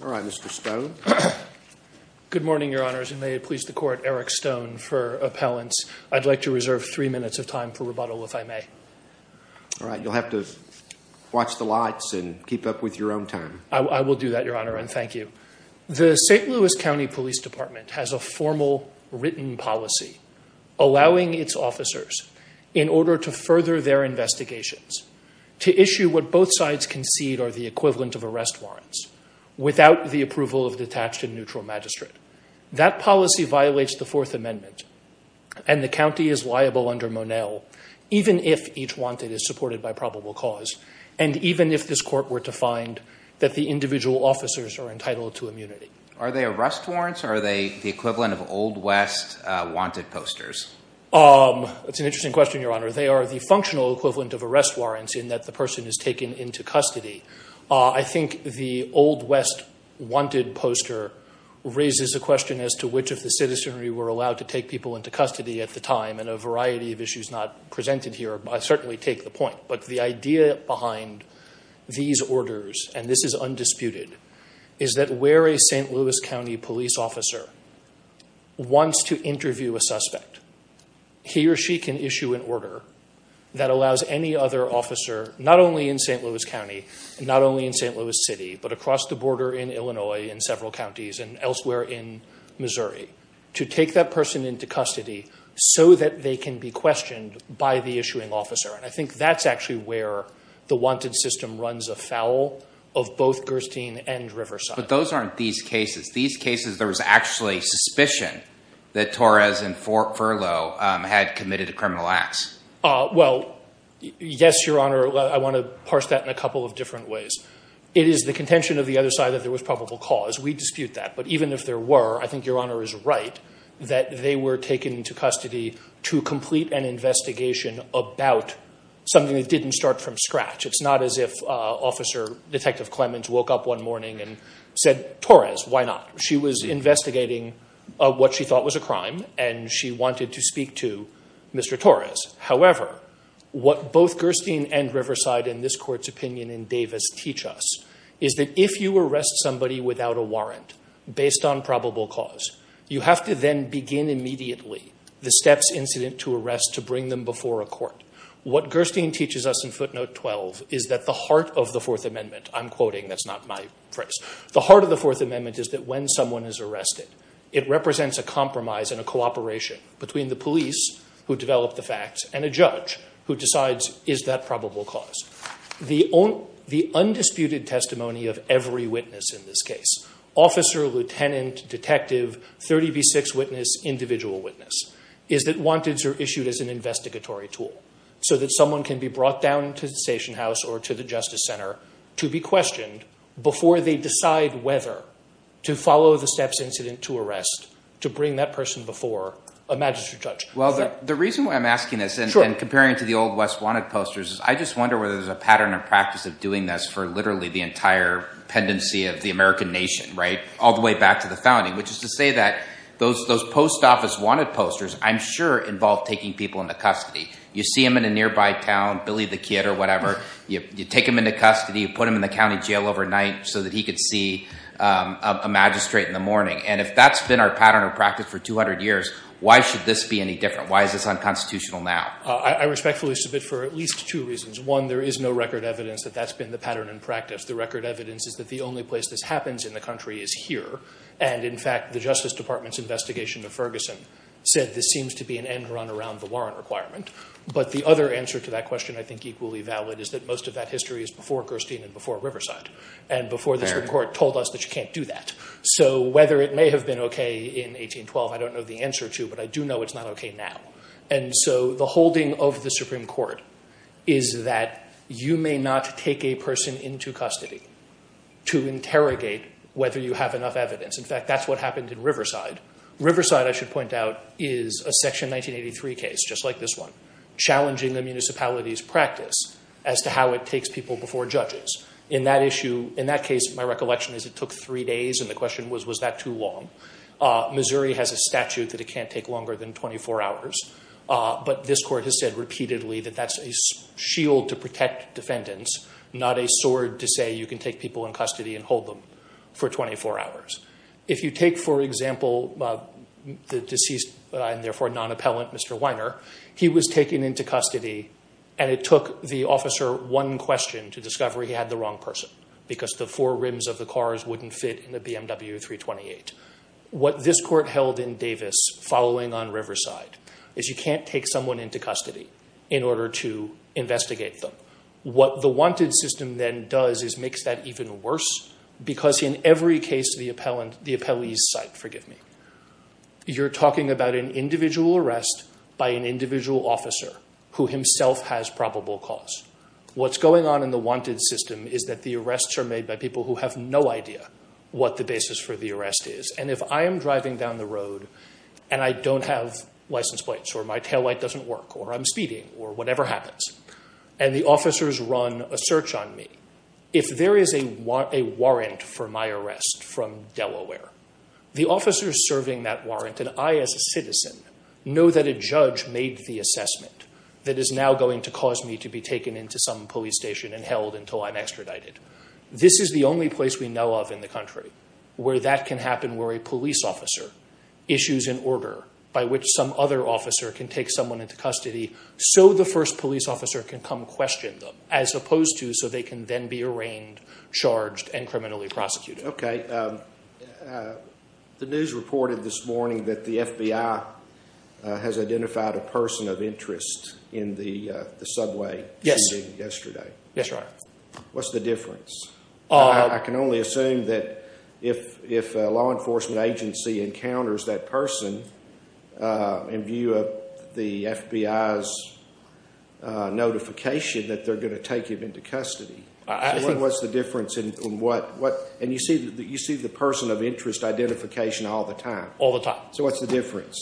All right, Mr. Stone. Good morning, Your Honors, and may it please the Court, Eric Stone for appellants. I'd like to reserve three minutes of time for rebuttal, if I may. All right, you'll have to watch the lights and keep up with your own time. I will do that, Your Honor, and thank you. The St. Louis County Police Department has a formal written policy allowing its officers, in order to further their without the approval of detached and neutral magistrate. That policy violates the Fourth Amendment, and the county is liable under Monell, even if each wanted is supported by probable cause, and even if this Court were to find that the individual officers are entitled to immunity. Are they arrest warrants, or are they the equivalent of Old West wanted posters? That's an interesting question, Your Honor. They are the functional equivalent of arrest warrants, in that the person is taken into custody. I think the Old West wanted poster raises a question as to which of the citizenry were allowed to take people into custody at the time, and a variety of issues not presented here certainly take the point. But the idea behind these orders, and this is undisputed, is that where a St. Louis County police officer wants to interview a suspect, he or she can issue an order that allows any other officer, not only in St. Louis County, not only in St. Louis City, but across the border in Illinois, in several counties, and elsewhere in Missouri, to take that person into custody so that they can be questioned by the issuing officer. And I think that's actually where the wanted system runs afoul of both Gerstein and Riverside. But those aren't these cases. These cases, there was actually suspicion that Torres and Furlow had committed a criminal acts. Well, yes, Your Honor. I want to parse that in a couple of different ways. It is the contention of the other side that there was probable cause. We dispute that. But even if there were, I think Your Honor is right that they were taken into custody to complete an investigation about something that didn't start from scratch. It's not as if Officer Detective Clemens woke up one morning and said, Torres, why not? She was investigating what she Mr. Torres. However, what both Gerstein and Riverside in this court's opinion in Davis teach us is that if you arrest somebody without a warrant based on probable cause, you have to then begin immediately the steps incident to arrest to bring them before a court. What Gerstein teaches us in footnote 12 is that the heart of the Fourth Amendment, I'm quoting, that's not my phrase, the heart of the Fourth Amendment is that when someone is arrested it represents a and a judge who decides is that probable cause. The undisputed testimony of every witness in this case, officer, lieutenant, detective, 30 v. 6 witness, individual witness, is that wanteds are issued as an investigatory tool so that someone can be brought down to the station house or to the Justice Center to be questioned before they decide whether to follow the steps incident to arrest to bring that person before a magistrate judge. Well, the reason why I'm asking this and comparing to the old West Wanted posters is I just wonder whether there's a pattern of practice of doing this for literally the entire pendency of the American nation, right, all the way back to the founding, which is to say that those post office wanted posters I'm sure involve taking people into custody. You see him in a nearby town, Billy the Kid or whatever, you take him into custody, you put him in the county jail overnight so that he could see a magistrate in the morning. And if that's been our pattern of practice for 200 years, why should this be any different? Why is this unconstitutional now? I respectfully submit for at least two reasons. One, there is no record evidence that that's been the pattern in practice. The record evidence is that the only place this happens in the country is here and in fact the Justice Department's investigation of Ferguson said this seems to be an end-run around the warrant requirement. But the other answer to that question I think equally valid is that most of that history is before Gerstein and before Riverside and before the Supreme Court told us that you can't do that. So whether it may have been okay in 1812, I don't know the answer to, but I do know it's not okay now. And so the holding of the Supreme Court is that you may not take a person into custody to interrogate whether you have enough evidence. In fact, that's what happened in Riverside. Riverside, I should point out, is a section 1983 case just like this one, challenging the municipality's practice as to how it takes people before judges. In that issue, in that case, my recollection is it took three days and the question was, was that too long? Missouri has a statute that it can't take longer than 24 hours, but this court has said repeatedly that that's a shield to protect defendants, not a sword to say you can take people in custody and hold them for 24 hours. If you take, for example, the deceased and therefore non-appellant Mr. Weiner, he was taken into custody and it took the officer one question to discover he had the wrong person because the four rims of the cars wouldn't fit in the BMW 328. What this court held in Davis following on Riverside is you can't take someone into custody in order to investigate them. What the wanted system then does is makes that even worse because in every case the appellant, the appellee's site, forgive me, you're talking about an individual arrest by an individual officer who himself has probable cause. What's going on in the wanted system is that the arrests are made by people who have no idea what the basis for the arrest is and if I am driving down the road and I don't have license plates or my taillight doesn't work or I'm speeding or whatever happens and the officers run a search on me, if there is a warrant for my arrest from Delaware, the officers serving that warrant and I as a citizen know that a that is now going to cause me to be taken into some police station and held until I'm extradited. This is the only place we know of in the country where that can happen where a police officer issues an order by which some other officer can take someone into custody so the first police officer can come question them as opposed to so they can then be arraigned, charged and criminally prosecuted. Okay. The news reported this morning that the FBI has identified a person of interest in the subway shooting yesterday. What's the difference? I can only assume that if a law enforcement agency encounters that person in view of the FBI's notification that they're going to take him into custody. What's the difference in what and you see that you see the person of interest identification all the time? All the time. So what's the difference?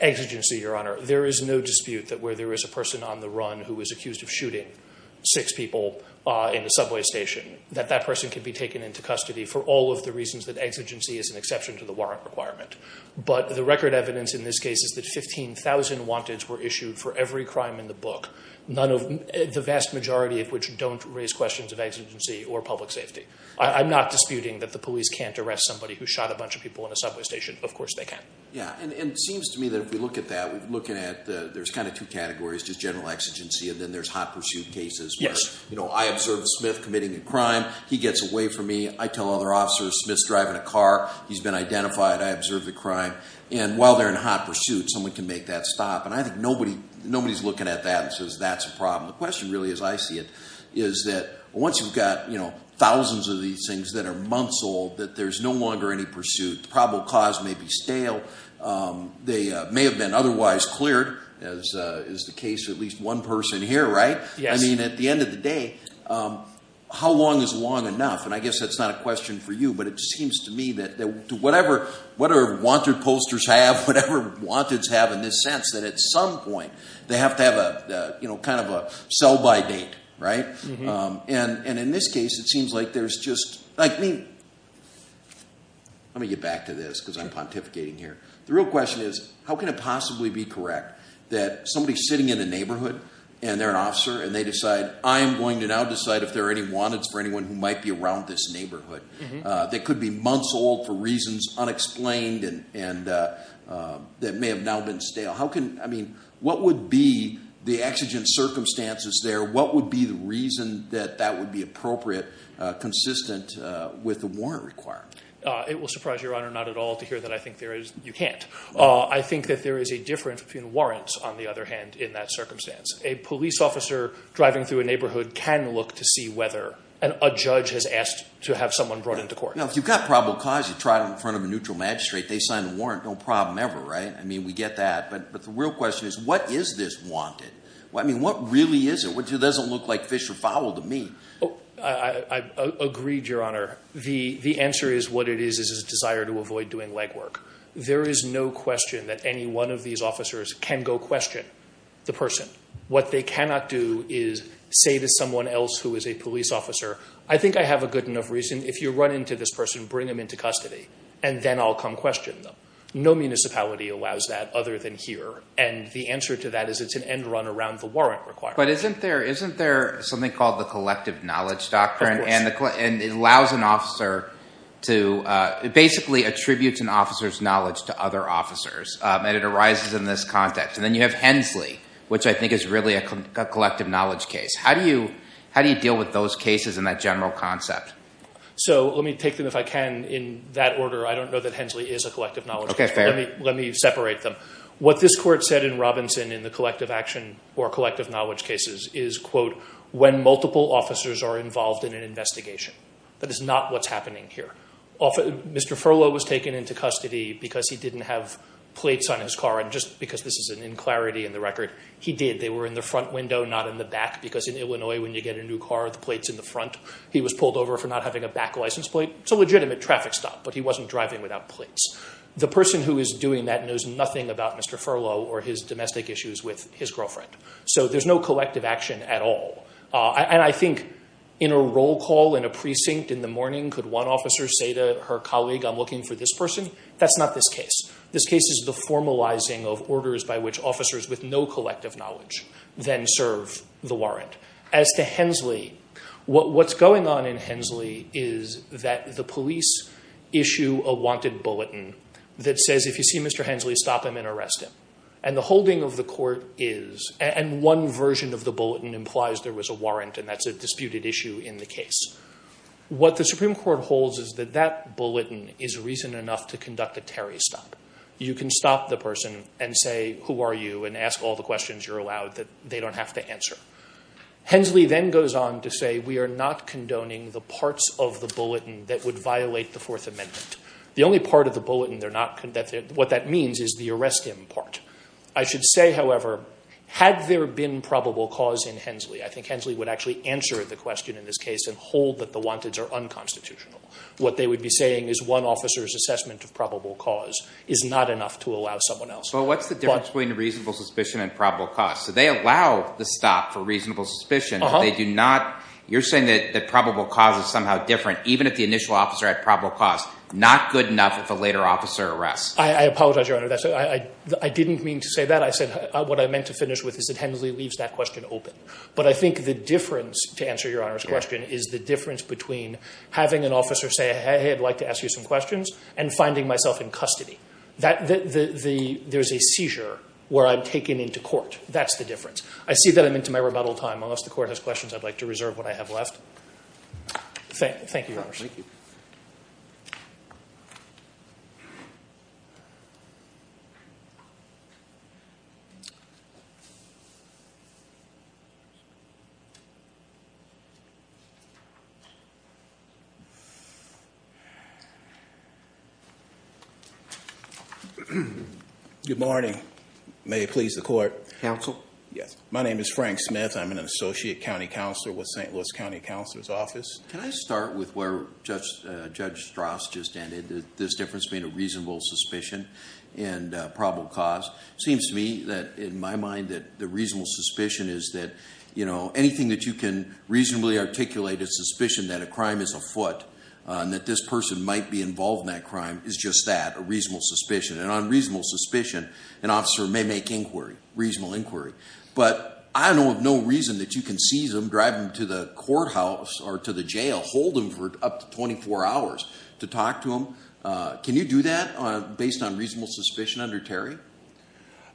Exigency, your honor, there is no dispute that where there is a person on the run who was accused of shooting six people in the subway station that that person can be taken into custody for all of the reasons that exigency is an exception to the warrant requirement but the record evidence in this case is that 15,000 wanted were issued for every crime in the book. The vast majority of which don't raise questions of exigency or public safety. I'm not disputing that the police can't arrest somebody who shot a bunch of people in a subway station. Of course they can. Yeah and it seems to me that if we look at that we're looking at there's kind of two categories to general exigency and then there's hot pursuit cases. Yes. You know I observed Smith committing a crime. He gets away from me. I tell other officers Smith's driving a car. He's been identified. I observed the crime and while they're in hot pursuit someone can make that stop and I think nobody's looking at that and says that's a problem. The question really as I see it is that once you've got you know thousands of these things that are months old that there's no longer any pursuit. The probable cause may be stale. They may have been otherwise cleared as is the case of at least one person here right? Yes. I mean at the end of the day how long is long enough and I guess that's not a question for you but it just seems to me that to whatever what our wanted posters have whatever wanted's have in this sense that at some point they have to have a you know kind of a sell-by date right? And in this case it seems like there's just like Let me get back to this because I'm pontificating here. The real question is how can it possibly be correct that somebody's sitting in a neighborhood and they're an officer and they decide I'm going to now decide if there are any wanted's for anyone who might be around this neighborhood. They could be months old for reasons unexplained and that may have now been stale. How can I mean what would be the exigent circumstances there? What would be the reason that that would be appropriate consistent with the warrant required? It will surprise your honor not at all to hear that I think there is you can't. I think that there is a difference between warrants on the other hand in that circumstance. A police officer driving through a neighborhood can look to see whether a judge has asked to have someone brought into court. Now if you've got probable cause you try it in front of a neutral magistrate they sign the warrant no problem ever right? I mean we get that but but the real question is what is this wanted? Well I agreed your honor. The the answer is what it is is a desire to avoid doing legwork. There is no question that any one of these officers can go question the person. What they cannot do is say to someone else who is a police officer I think I have a good enough reason if you run into this person bring them into custody and then I'll come question them. No municipality allows that other than here and the answer to that is it's an end run around the warrant required. But isn't there isn't there something called the collective knowledge doctrine and it allows an officer to basically attributes an officer's knowledge to other officers and it arises in this context and then you have Hensley which I think is really a collective knowledge case. How do you how do you deal with those cases in that general concept? So let me take them if I can in that order I don't know that Hensley is a collective knowledge case. Let me separate them. What this court said in Robinson in the collective action or collective cases is quote when multiple officers are involved in an investigation. That is not what's happening here. Mr. Furlow was taken into custody because he didn't have plates on his car and just because this is an in clarity in the record he did. They were in the front window not in the back because in Illinois when you get a new car the plates in the front. He was pulled over for not having a back license plate. It's a legitimate traffic stop but he wasn't driving without plates. The person who is doing that knows nothing about Mr. Furlow or his domestic issues with his girlfriend. So there's no collective action at all. And I think in a roll call in a precinct in the morning could one officer say to her colleague I'm looking for this person. That's not this case. This case is the formalizing of orders by which officers with no collective knowledge then serve the warrant. As to Hensley, what's going on in Hensley is that the police issue a wanted bulletin that says if you see Mr. Hensley stop him and arrest him. And the holding of the court is and one version of the bulletin implies there was a warrant and that's a disputed issue in the case. What the Supreme Court holds is that that bulletin is reason enough to conduct a Terry stop. You can stop the person and say who are you and ask all the questions you're allowed that they don't have to answer. Hensley then goes on to say we are not condoning the parts of the bulletin that would violate the Fourth Amendment. The only part of the bulletin they're not conducting what that means is the arrest him part. I should say however had there been probable cause in Hensley, I think Hensley would actually answer the question in this case and hold that the wanteds are unconstitutional. What they would be saying is one officer's assessment of probable cause is not enough to allow someone else. But what's the difference between reasonable suspicion and probable cause? So they allow the stop for reasonable suspicion. They do not, you're saying that the probable cause is somehow different even if the initial officer had probable cause. Not good enough if a later officer arrests. I apologize your honor. I didn't mean to say that. I said what I meant to that question open. But I think the difference, to answer your honor's question, is the difference between having an officer say hey I'd like to ask you some questions and finding myself in custody. There's a seizure where I'm taken into court. That's the difference. I see that I'm into my rebuttal time. Unless the court has questions I'd like to reserve what I have left. Thank you. Good morning. May it please the court. Counsel? Yes. My name is Frank Smith. I'm an associate county counselor with St. Louis County Counselor's Office. Can I start with where Judge Strauss just ended? This difference being a reasonable suspicion and probable cause. Seems to me that in my mind that the anything that you can reasonably articulate a suspicion that a crime is afoot and that this person might be involved in that crime is just that, a reasonable suspicion. And on reasonable suspicion an officer may make reasonable inquiry. But I know of no reason that you can seize them, drive them to the courthouse or to the jail, hold them for up to 24 hours to talk to them. Can you do that based on reasonable suspicion under Terry?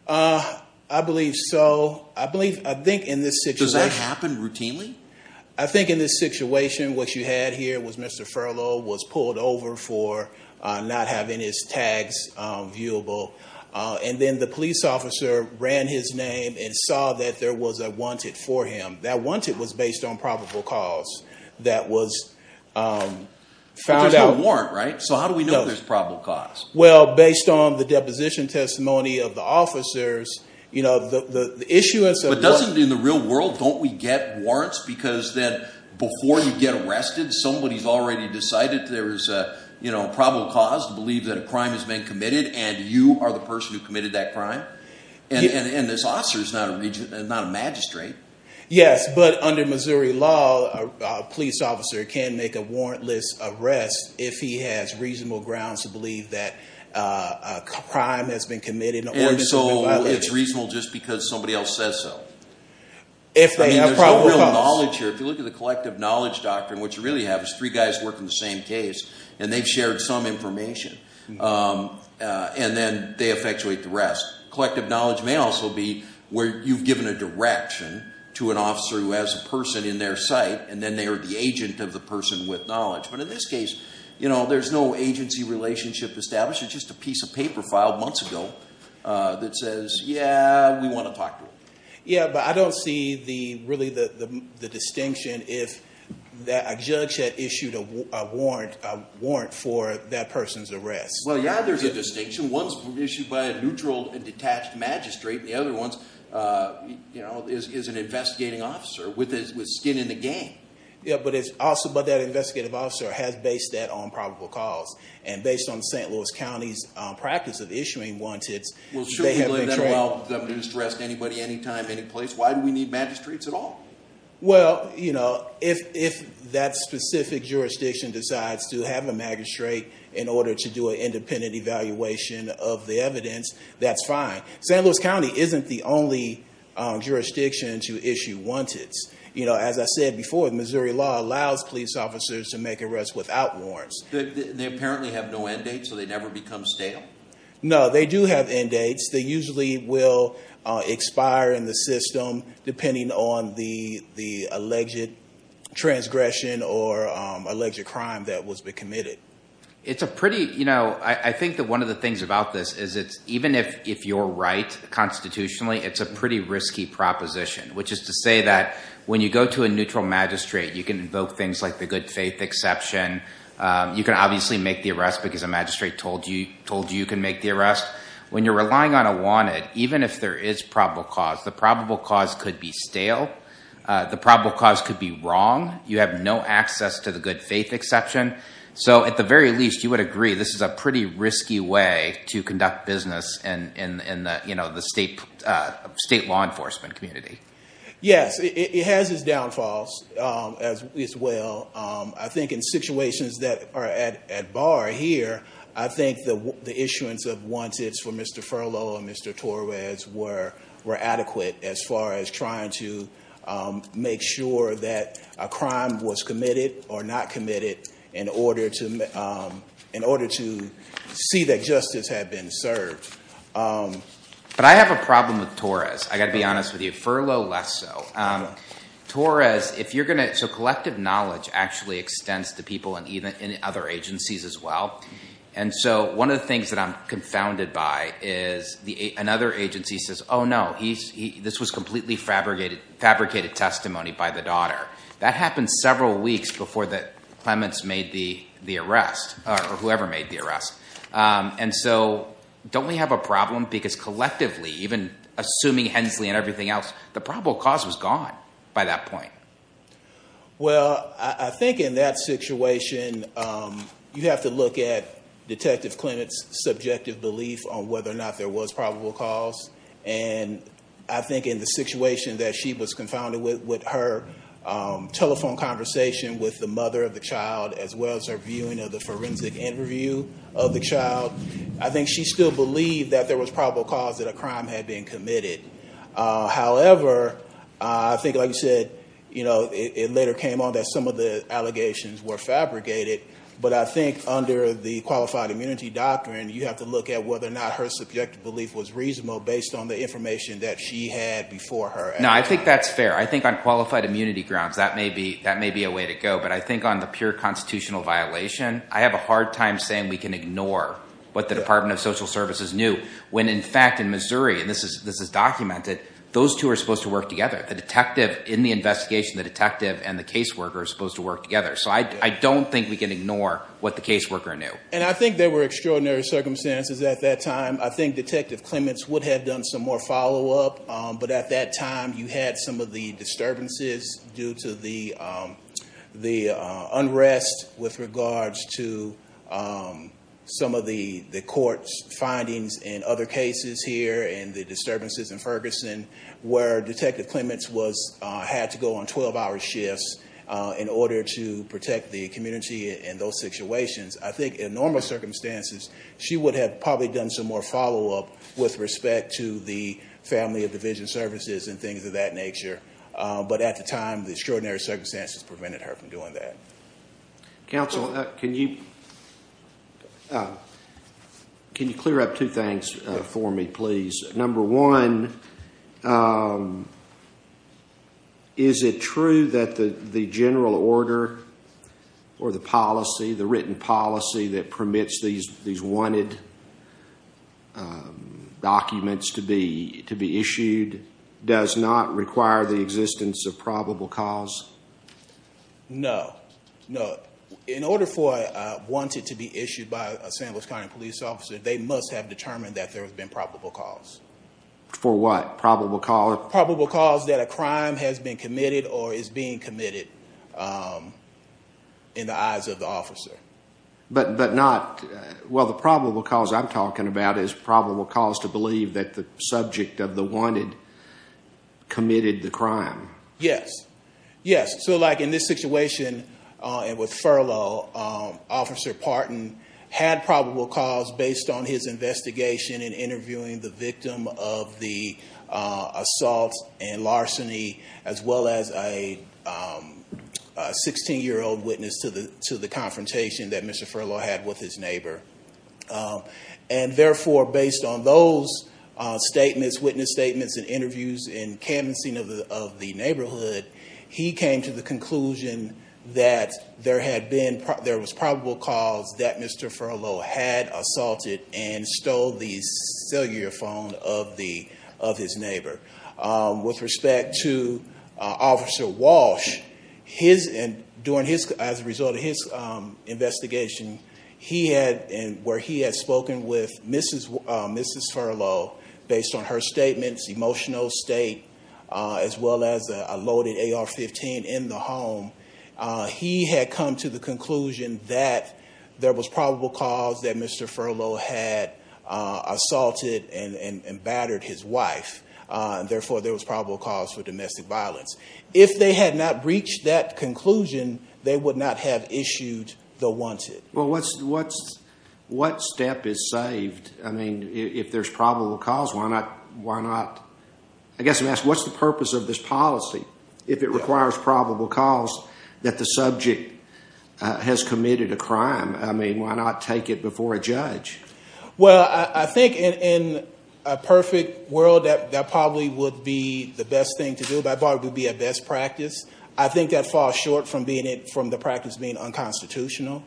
I believe so. I think in this situation. Does that happen routinely? I think in this situation what you had here was Mr. Furlow was pulled over for not having his tags viewable. And then the police officer ran his name and saw that there was a wanted for him. That wanted was based on probable cause. That was found out. There's no warrant right? So how do we know there's probable cause? Well based on the deposition testimony of the doesn't in the real world don't we get warrants because then before you get arrested somebody's already decided there is a you know probable cause to believe that a crime has been committed and you are the person who committed that crime. And this officer is not a magistrate. Yes but under Missouri law a police officer can make a warrantless arrest if he has reasonable grounds to believe that a crime has been committed. And so it's reasonable just because somebody else says so. If they have probable cause. If you look at the collective knowledge doctrine what you really have is three guys working the same case and they've shared some information and then they effectuate the rest. Collective knowledge may also be where you've given a direction to an officer who has a person in their sight and then they are the agent of the person with knowledge. But in this case you know there's no agency relationship established. It's just a piece of paper filed months ago that says yeah we want to talk. Yeah but I don't see the really the the distinction if that a judge had issued a warrant for that person's arrest. Well yeah there's a distinction. One's issued by a neutral and detached magistrate. The other ones you know is an investigating officer with skin in the game. Yeah but it's also but that investigative officer has based that on probable cause and based on the St. Louis County's practice of issuing wanteds. Well should we let them arrest anybody any time any place? Why do we need magistrates at all? Well you know if that specific jurisdiction decides to have a magistrate in order to do an independent evaluation of the evidence that's fine. St. Louis County isn't the only jurisdiction to issue wanteds. You know as I said before Missouri law allows police officers to make arrests without warrants. They apparently have no end date so they never become stale? No they do have end dates. They usually will expire in the system depending on the the alleged transgression or alleged crime that was been committed. It's a pretty you know I think that one of the things about this is it's even if if you're right constitutionally it's a pretty risky proposition. Which is to say that when you go to a neutral magistrate you can invoke things like the good faith exception. You can obviously make the magistrate told you told you can make the arrest. When you're relying on a wanted even if there is probable cause the probable cause could be stale. The probable cause could be wrong. You have no access to the good faith exception. So at the very least you would agree this is a pretty risky way to conduct business and in you know the state state law enforcement community. Yes it has its bar here. I think the issuance of wants it's for mr. furlough and mr. Torres were were adequate as far as trying to make sure that a crime was committed or not committed in order to in order to see that justice had been served. But I have a problem with Torres. I got to be honest with you furlough less so. Torres if you're gonna so collective knowledge actually extends to people and even in other agencies as well. And so one of the things that I'm confounded by is the another agency says oh no he's this was completely fabricated fabricated testimony by the daughter. That happened several weeks before that Clements made the the arrest or whoever made the arrest. And so don't we have a problem because collectively even assuming Hensley and everything else the probable cause was gone by that point. Well I think in that situation you have to look at detective Clements subjective belief on whether or not there was probable cause. And I think in the situation that she was confounded with with her telephone conversation with the mother of the child as well as her viewing of the forensic interview of the child. I think she still believed that there was probable cause that a crime had been committed. However I think like you said you know it later came on that some of the allegations were fabricated. But I think under the qualified immunity doctrine you have to look at whether or not her subjective belief was reasonable based on the information that she had before her. No I think that's fair. I think on qualified immunity grounds that may be that may be a way to go. But I think on the pure constitutional violation I have a hard time saying we can ignore what the Department of Social Services knew. When in fact in Missouri and this is this is documented those two are supposed to work together. The detective in the investigation the detective and the caseworker are supposed to work together. So I don't think we can ignore what the caseworker knew. And I think there were extraordinary circumstances at that time. I think detective Clements would have done some more follow-up but at that time you had some of the disturbances due to the the unrest with regards to some of the the court's findings in other cases here and the disturbances in Ferguson where detective Clements was had to go on 12-hour shifts in order to protect the community in those situations. I think in normal circumstances she would have probably done some more follow-up with respect to the family of division services and at the time the extraordinary circumstances prevented her from doing that. Counsel can you can you clear up two things for me please. Number one is it true that the the general order or the policy the written policy that permits these these wanted documents to be to be issued does not require the existence of probable cause? No, no. In order for wanted to be issued by a San Luis County police officer they must have determined that there has been probable cause. For what probable cause? Probable cause that a crime has been committed or is being committed in the eyes of the officer. But but not well the probable cause I'm talking about is probable cause to believe that the subject of the wanted committed the crime. Yes, yes. So like in this situation and with Furlow officer Parton had probable cause based on his investigation and interviewing the victim of the assault and larceny as well as a 16 year old witness to the to the confrontation that Mr. Furlow had with his neighbor and therefore based on those statements witness statements and interviews and canvassing of the neighborhood he came to the conclusion that there had been there was probable cause that Mr. Furlow had assaulted and stole the cellular phone of the of his neighbor. With respect to officer Walsh his and during his as a result of his investigation he had and where he has spoken with Mrs. Mrs. Furlow based on her statements emotional state as well as a loaded AR-15 in the home he had come to the conclusion that there was probable cause that Mr. Furlow had assaulted and and and battered his wife and therefore there was probable cause for domestic violence. If they had not reached that conclusion they would not have issued the wanted. Well what's what's what step is saved I mean if there's probable cause why not why not I guess I'm asking what's the purpose of this policy if it requires probable cause that the subject has committed a crime I mean why not take it before a judge? Well I think in a perfect world that that probably would be the best thing to do by far would be a best practice I think that falls short from being it from the practice being unconstitutional.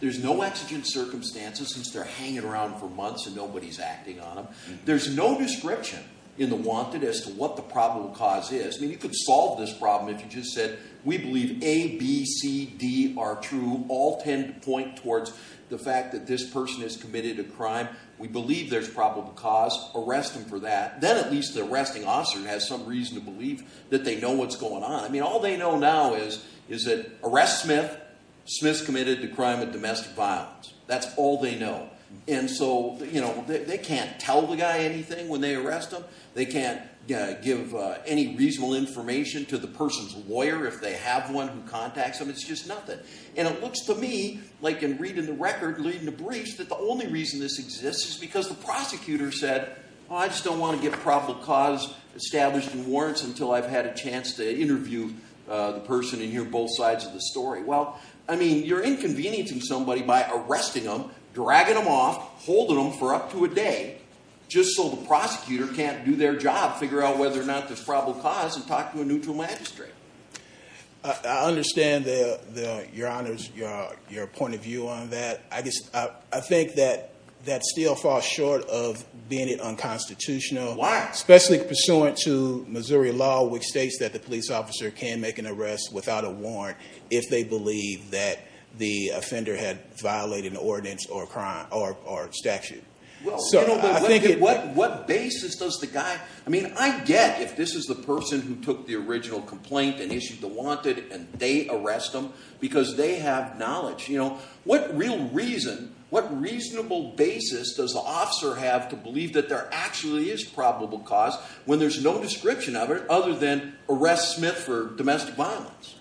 There's no exigent circumstances since they're hanging around for months and nobody's acting on them. There's no description in the wanted as to what the probable cause is. I mean you could solve this problem if you just said we believe A, B, C, D are true all ten point towards the fact that this person has committed a crime we believe there's probable cause arrest them for that then at least the arresting officer has some reason to believe that they know what's going on I mean all they know now is is that arrest Smith, Smith's committed a crime of domestic violence that's all they know and so you know they can't tell the guy anything when they arrest them they can't give any reasonable information to the person's lawyer if they have one who contacts them it's just nothing and it looks to me like in reading the record leading the briefs that the only reason this exists is because the prosecutor said I just don't want to give a probable cause established in warrants until I've had a chance to interview the person and hear both sides of the story well I mean you're inconveniencing somebody by arresting them dragging them off holding them for up to a day just so the prosecutor can't do their job figure out whether or not there's probable cause and talk to a neutral magistrate. I understand the your honors your your point of view on that I guess I think that that still falls short of being it Why? especially pursuant to Missouri law which states that the police officer can make an arrest without a warrant if they believe that the offender had violated the ordinance or crime or statute so I think it what what basis does the guy I mean I get if this is the person who took the original complaint and issued the wanted and they arrest them because they have knowledge you know what real reason what reasonable basis does the officer have to believe that they're actually is probable cause when there's no description of it other than arrest Smith for domestic violence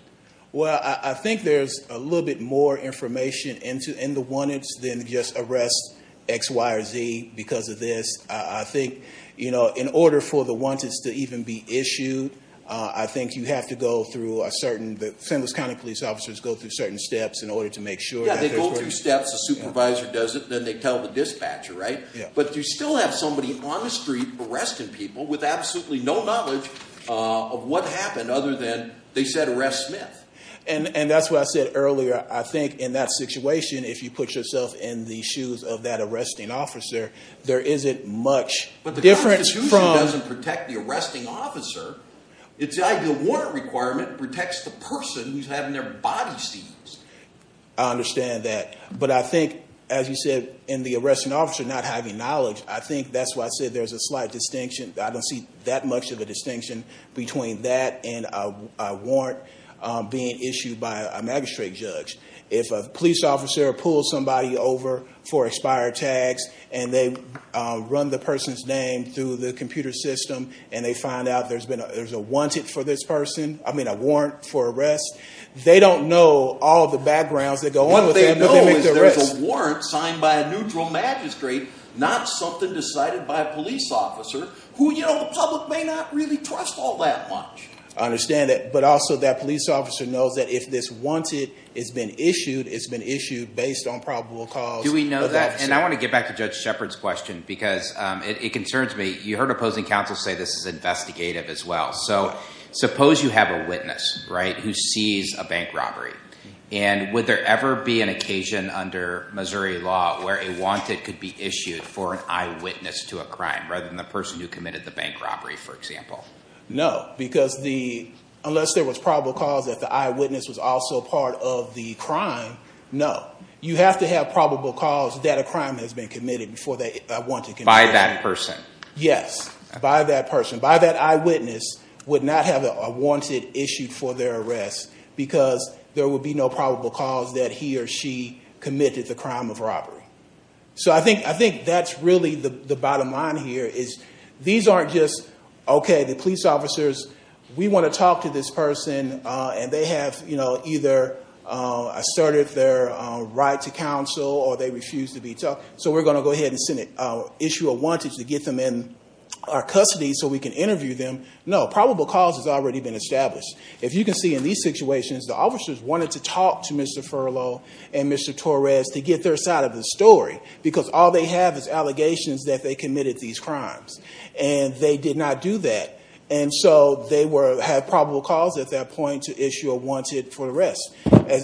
well I think there's a little bit more information into in the one it's then just arrest X Y or Z because of this I think you know in order for the ones it's to even be issued I think you have to go through a certain the St. Louis County police officers go through certain steps in order to make sure they go through steps the supervisor does it then they tell the dispatcher right but you still have somebody on the street arresting people with absolutely no knowledge of what happened other than they said arrest Smith and and that's what I said earlier I think in that situation if you put yourself in the shoes of that arresting officer there isn't much but the difference from doesn't protect the arresting officer it's like the warrant requirement protects the person who's having their body seized I understand that but I think as you said in the arresting officer not having knowledge I think that's why I said there's a slight distinction I don't see that much of a distinction between that and a warrant being issued by a magistrate judge if a police officer pulls somebody over for expired tags and they run the person's name through the computer system and they find out there's been a there's a wanted for this person I mean a warrant for arrest they don't know all the grounds that go on they know there's a warrant signed by a neutral magistrate not something decided by a police officer who you know the public may not really trust all that much I understand it but also that police officer knows that if this wanted it's been issued it's been issued based on probable cause do we know that and I want to get back to judge Shepard's question because it concerns me you heard opposing counsel say this is investigative as well so you have a witness right who sees a bank robbery and would there ever be an occasion under Missouri law where a wanted could be issued for an eyewitness to a crime rather than the person who committed the bank robbery for example no because the unless there was probable cause that the eyewitness was also part of the crime no you have to have probable cause that a crime has been committed before they want to buy that person yes by that person by that eyewitness would not have a wanted issued for their arrest because there would be no probable cause that he or she committed the crime of robbery so I think I think that's really the bottom line here is these aren't just okay the police officers we want to talk to this person and they have you know either asserted their right to counsel or they refuse to be tough so we're going to go ahead and send it issue a wanted to get them in our custody so we can interview them no probable cause has already been established if you can see in these situations the officers wanted to talk to mr. furlough and mr. Torres to get their side of the story because all they have is allegations that they committed these crimes and they did not do that and so they were have probable cause at that point to issue a wanted for the rest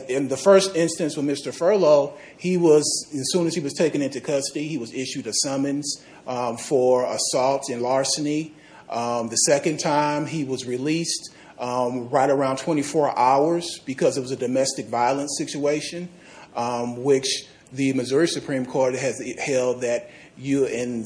in the first instance when mr. furlough he was as soon as he was taken into custody he was issued a summons for assault and larceny the second time he was released right around 24 hours because it was a domestic violence situation which the Missouri Supreme Court has held that you in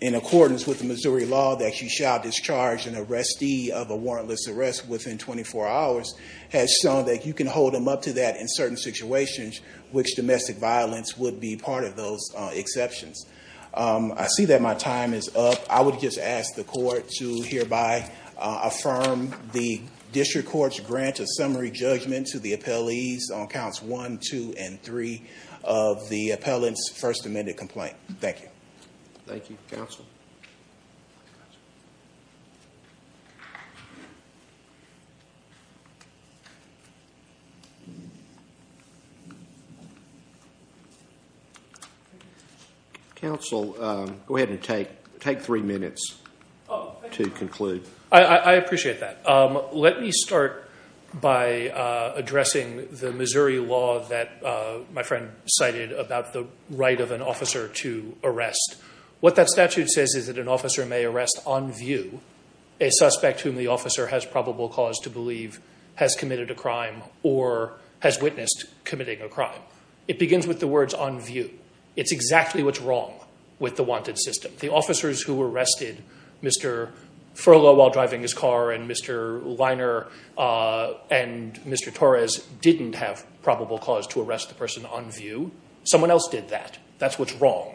in accordance with the Missouri law that you shall discharge an arrestee of a warrantless arrest within 24 hours has shown that you can hold them up to that in certain situations which domestic violence would be part of those exceptions I see that my time is up I would just ask the court to hereby affirm the district courts grant a summary judgment to the appellees on counts one two and three of the appellants first amended complaint thank you thank you counsel counsel go ahead and take take three minutes to conclude I appreciate that let me start by addressing the Missouri law that my friend cited about the right of an officer to arrest what that statute says is that an officer may arrest on view a suspect whom the officer has probable cause to believe has committed a crime or has witnessed committing a crime it begins with the it's exactly what's wrong with the wanted system the officers who were arrested mr. furlough while driving his car and mr. liner and mr. Torres didn't have probable cause to arrest the person on view someone else did that that's what's wrong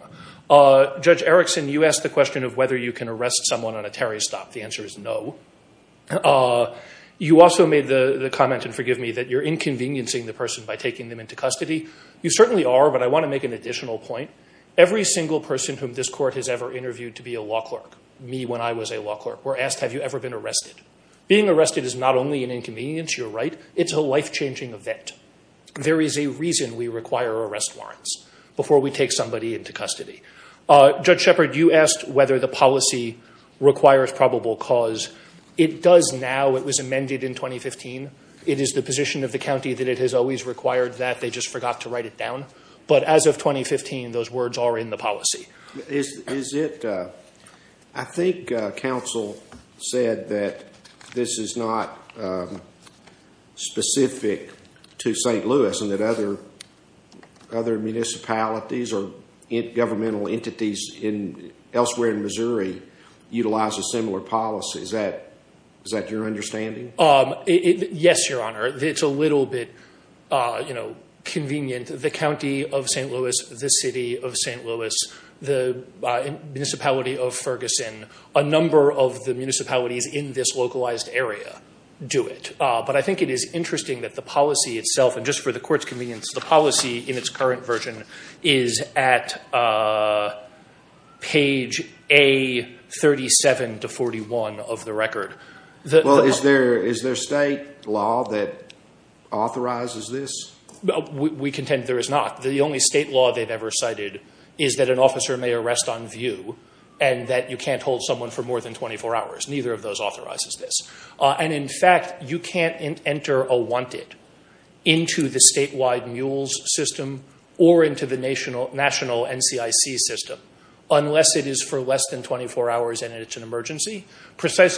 judge Erickson you asked the question of whether you can arrest someone on a Terry stop the answer is no you also made the comment and forgive me that you're inconveniencing the person by taking them into custody you certainly are but I want to make an additional point every single person whom this court has ever interviewed to be a law clerk me when I was a law clerk we're asked have you ever been arrested being arrested is not only an inconvenience you're right it's a life-changing event there is a reason we require arrest warrants before we take somebody into custody judge Shepard you asked whether the policy requires probable cause it does now it was amended in 2015 it is the position of the county that it has always required that they just forgot to write it down but as of 2015 those words are in the policy is is it I think council said that this is not specific to st. Louis and that other other municipalities or governmental entities in elsewhere in Missouri utilize a similar policy is that is that your understanding um yes your honor it's a bit you know convenient the county of st. Louis the city of st. Louis the municipality of Ferguson a number of the municipalities in this localized area do it but I think it is interesting that the policy itself and just for the court's convenience the policy in its current version is at page a 37 to 41 of the record well is there is there state law that authorizes this we contend there is not the only state law they've ever cited is that an officer may arrest on view and that you can't hold someone for more than 24 hours neither of those authorizes this and in fact you can't enter a wanted into the statewide mules system or into the national national NCIC system unless it is for less than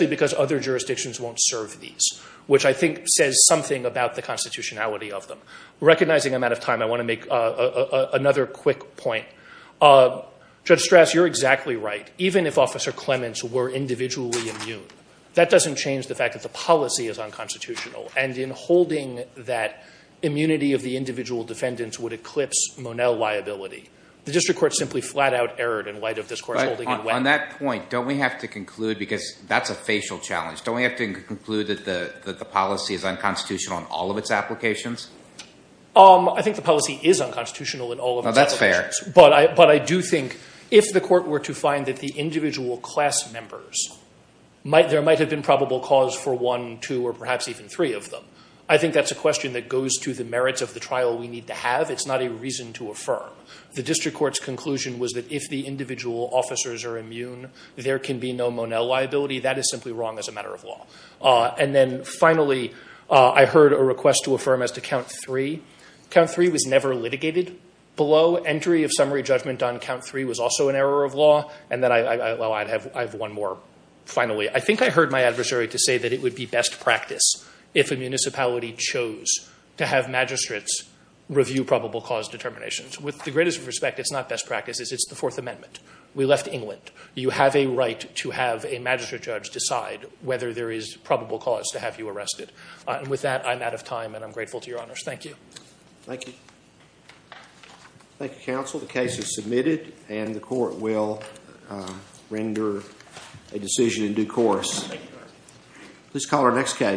because other jurisdictions won't serve these which I think says something about the constitutionality of them recognizing I'm out of time I want to make another quick point judge stress you're exactly right even if officer Clements were individually immune that doesn't change the fact that the policy is unconstitutional and in holding that immunity of the individual defendants would eclipse Monell liability the district court simply flat-out erred in light of this course on that point don't we have to conclude because that's a facial challenge don't we have to conclude that the policy is unconstitutional in all of its applications I think the policy is unconstitutional in all of that's fair but I but I do think if the court were to find that the individual class members might there might have been probable cause for one two or perhaps even three of them I think that's a question that goes to the merits of the trial we need to have it's not a reason to affirm the district courts conclusion was that if the individual officers are wrong as a matter of law and then finally I heard a request to affirm as to count three count three was never litigated below entry of summary judgment on count three was also an error of law and that I have one more finally I think I heard my adversary to say that it would be best practice if a municipality chose to have magistrates review probable cause determinations with the greatest respect it's not best practices it's the Fourth Amendment we have a right to have a magistrate judge decide whether there is probable cause to have you arrested and with that I'm out of time and I'm grateful to your honors thank you thank you thank you counsel the case is submitted and the court will render a decision in due course please call our next case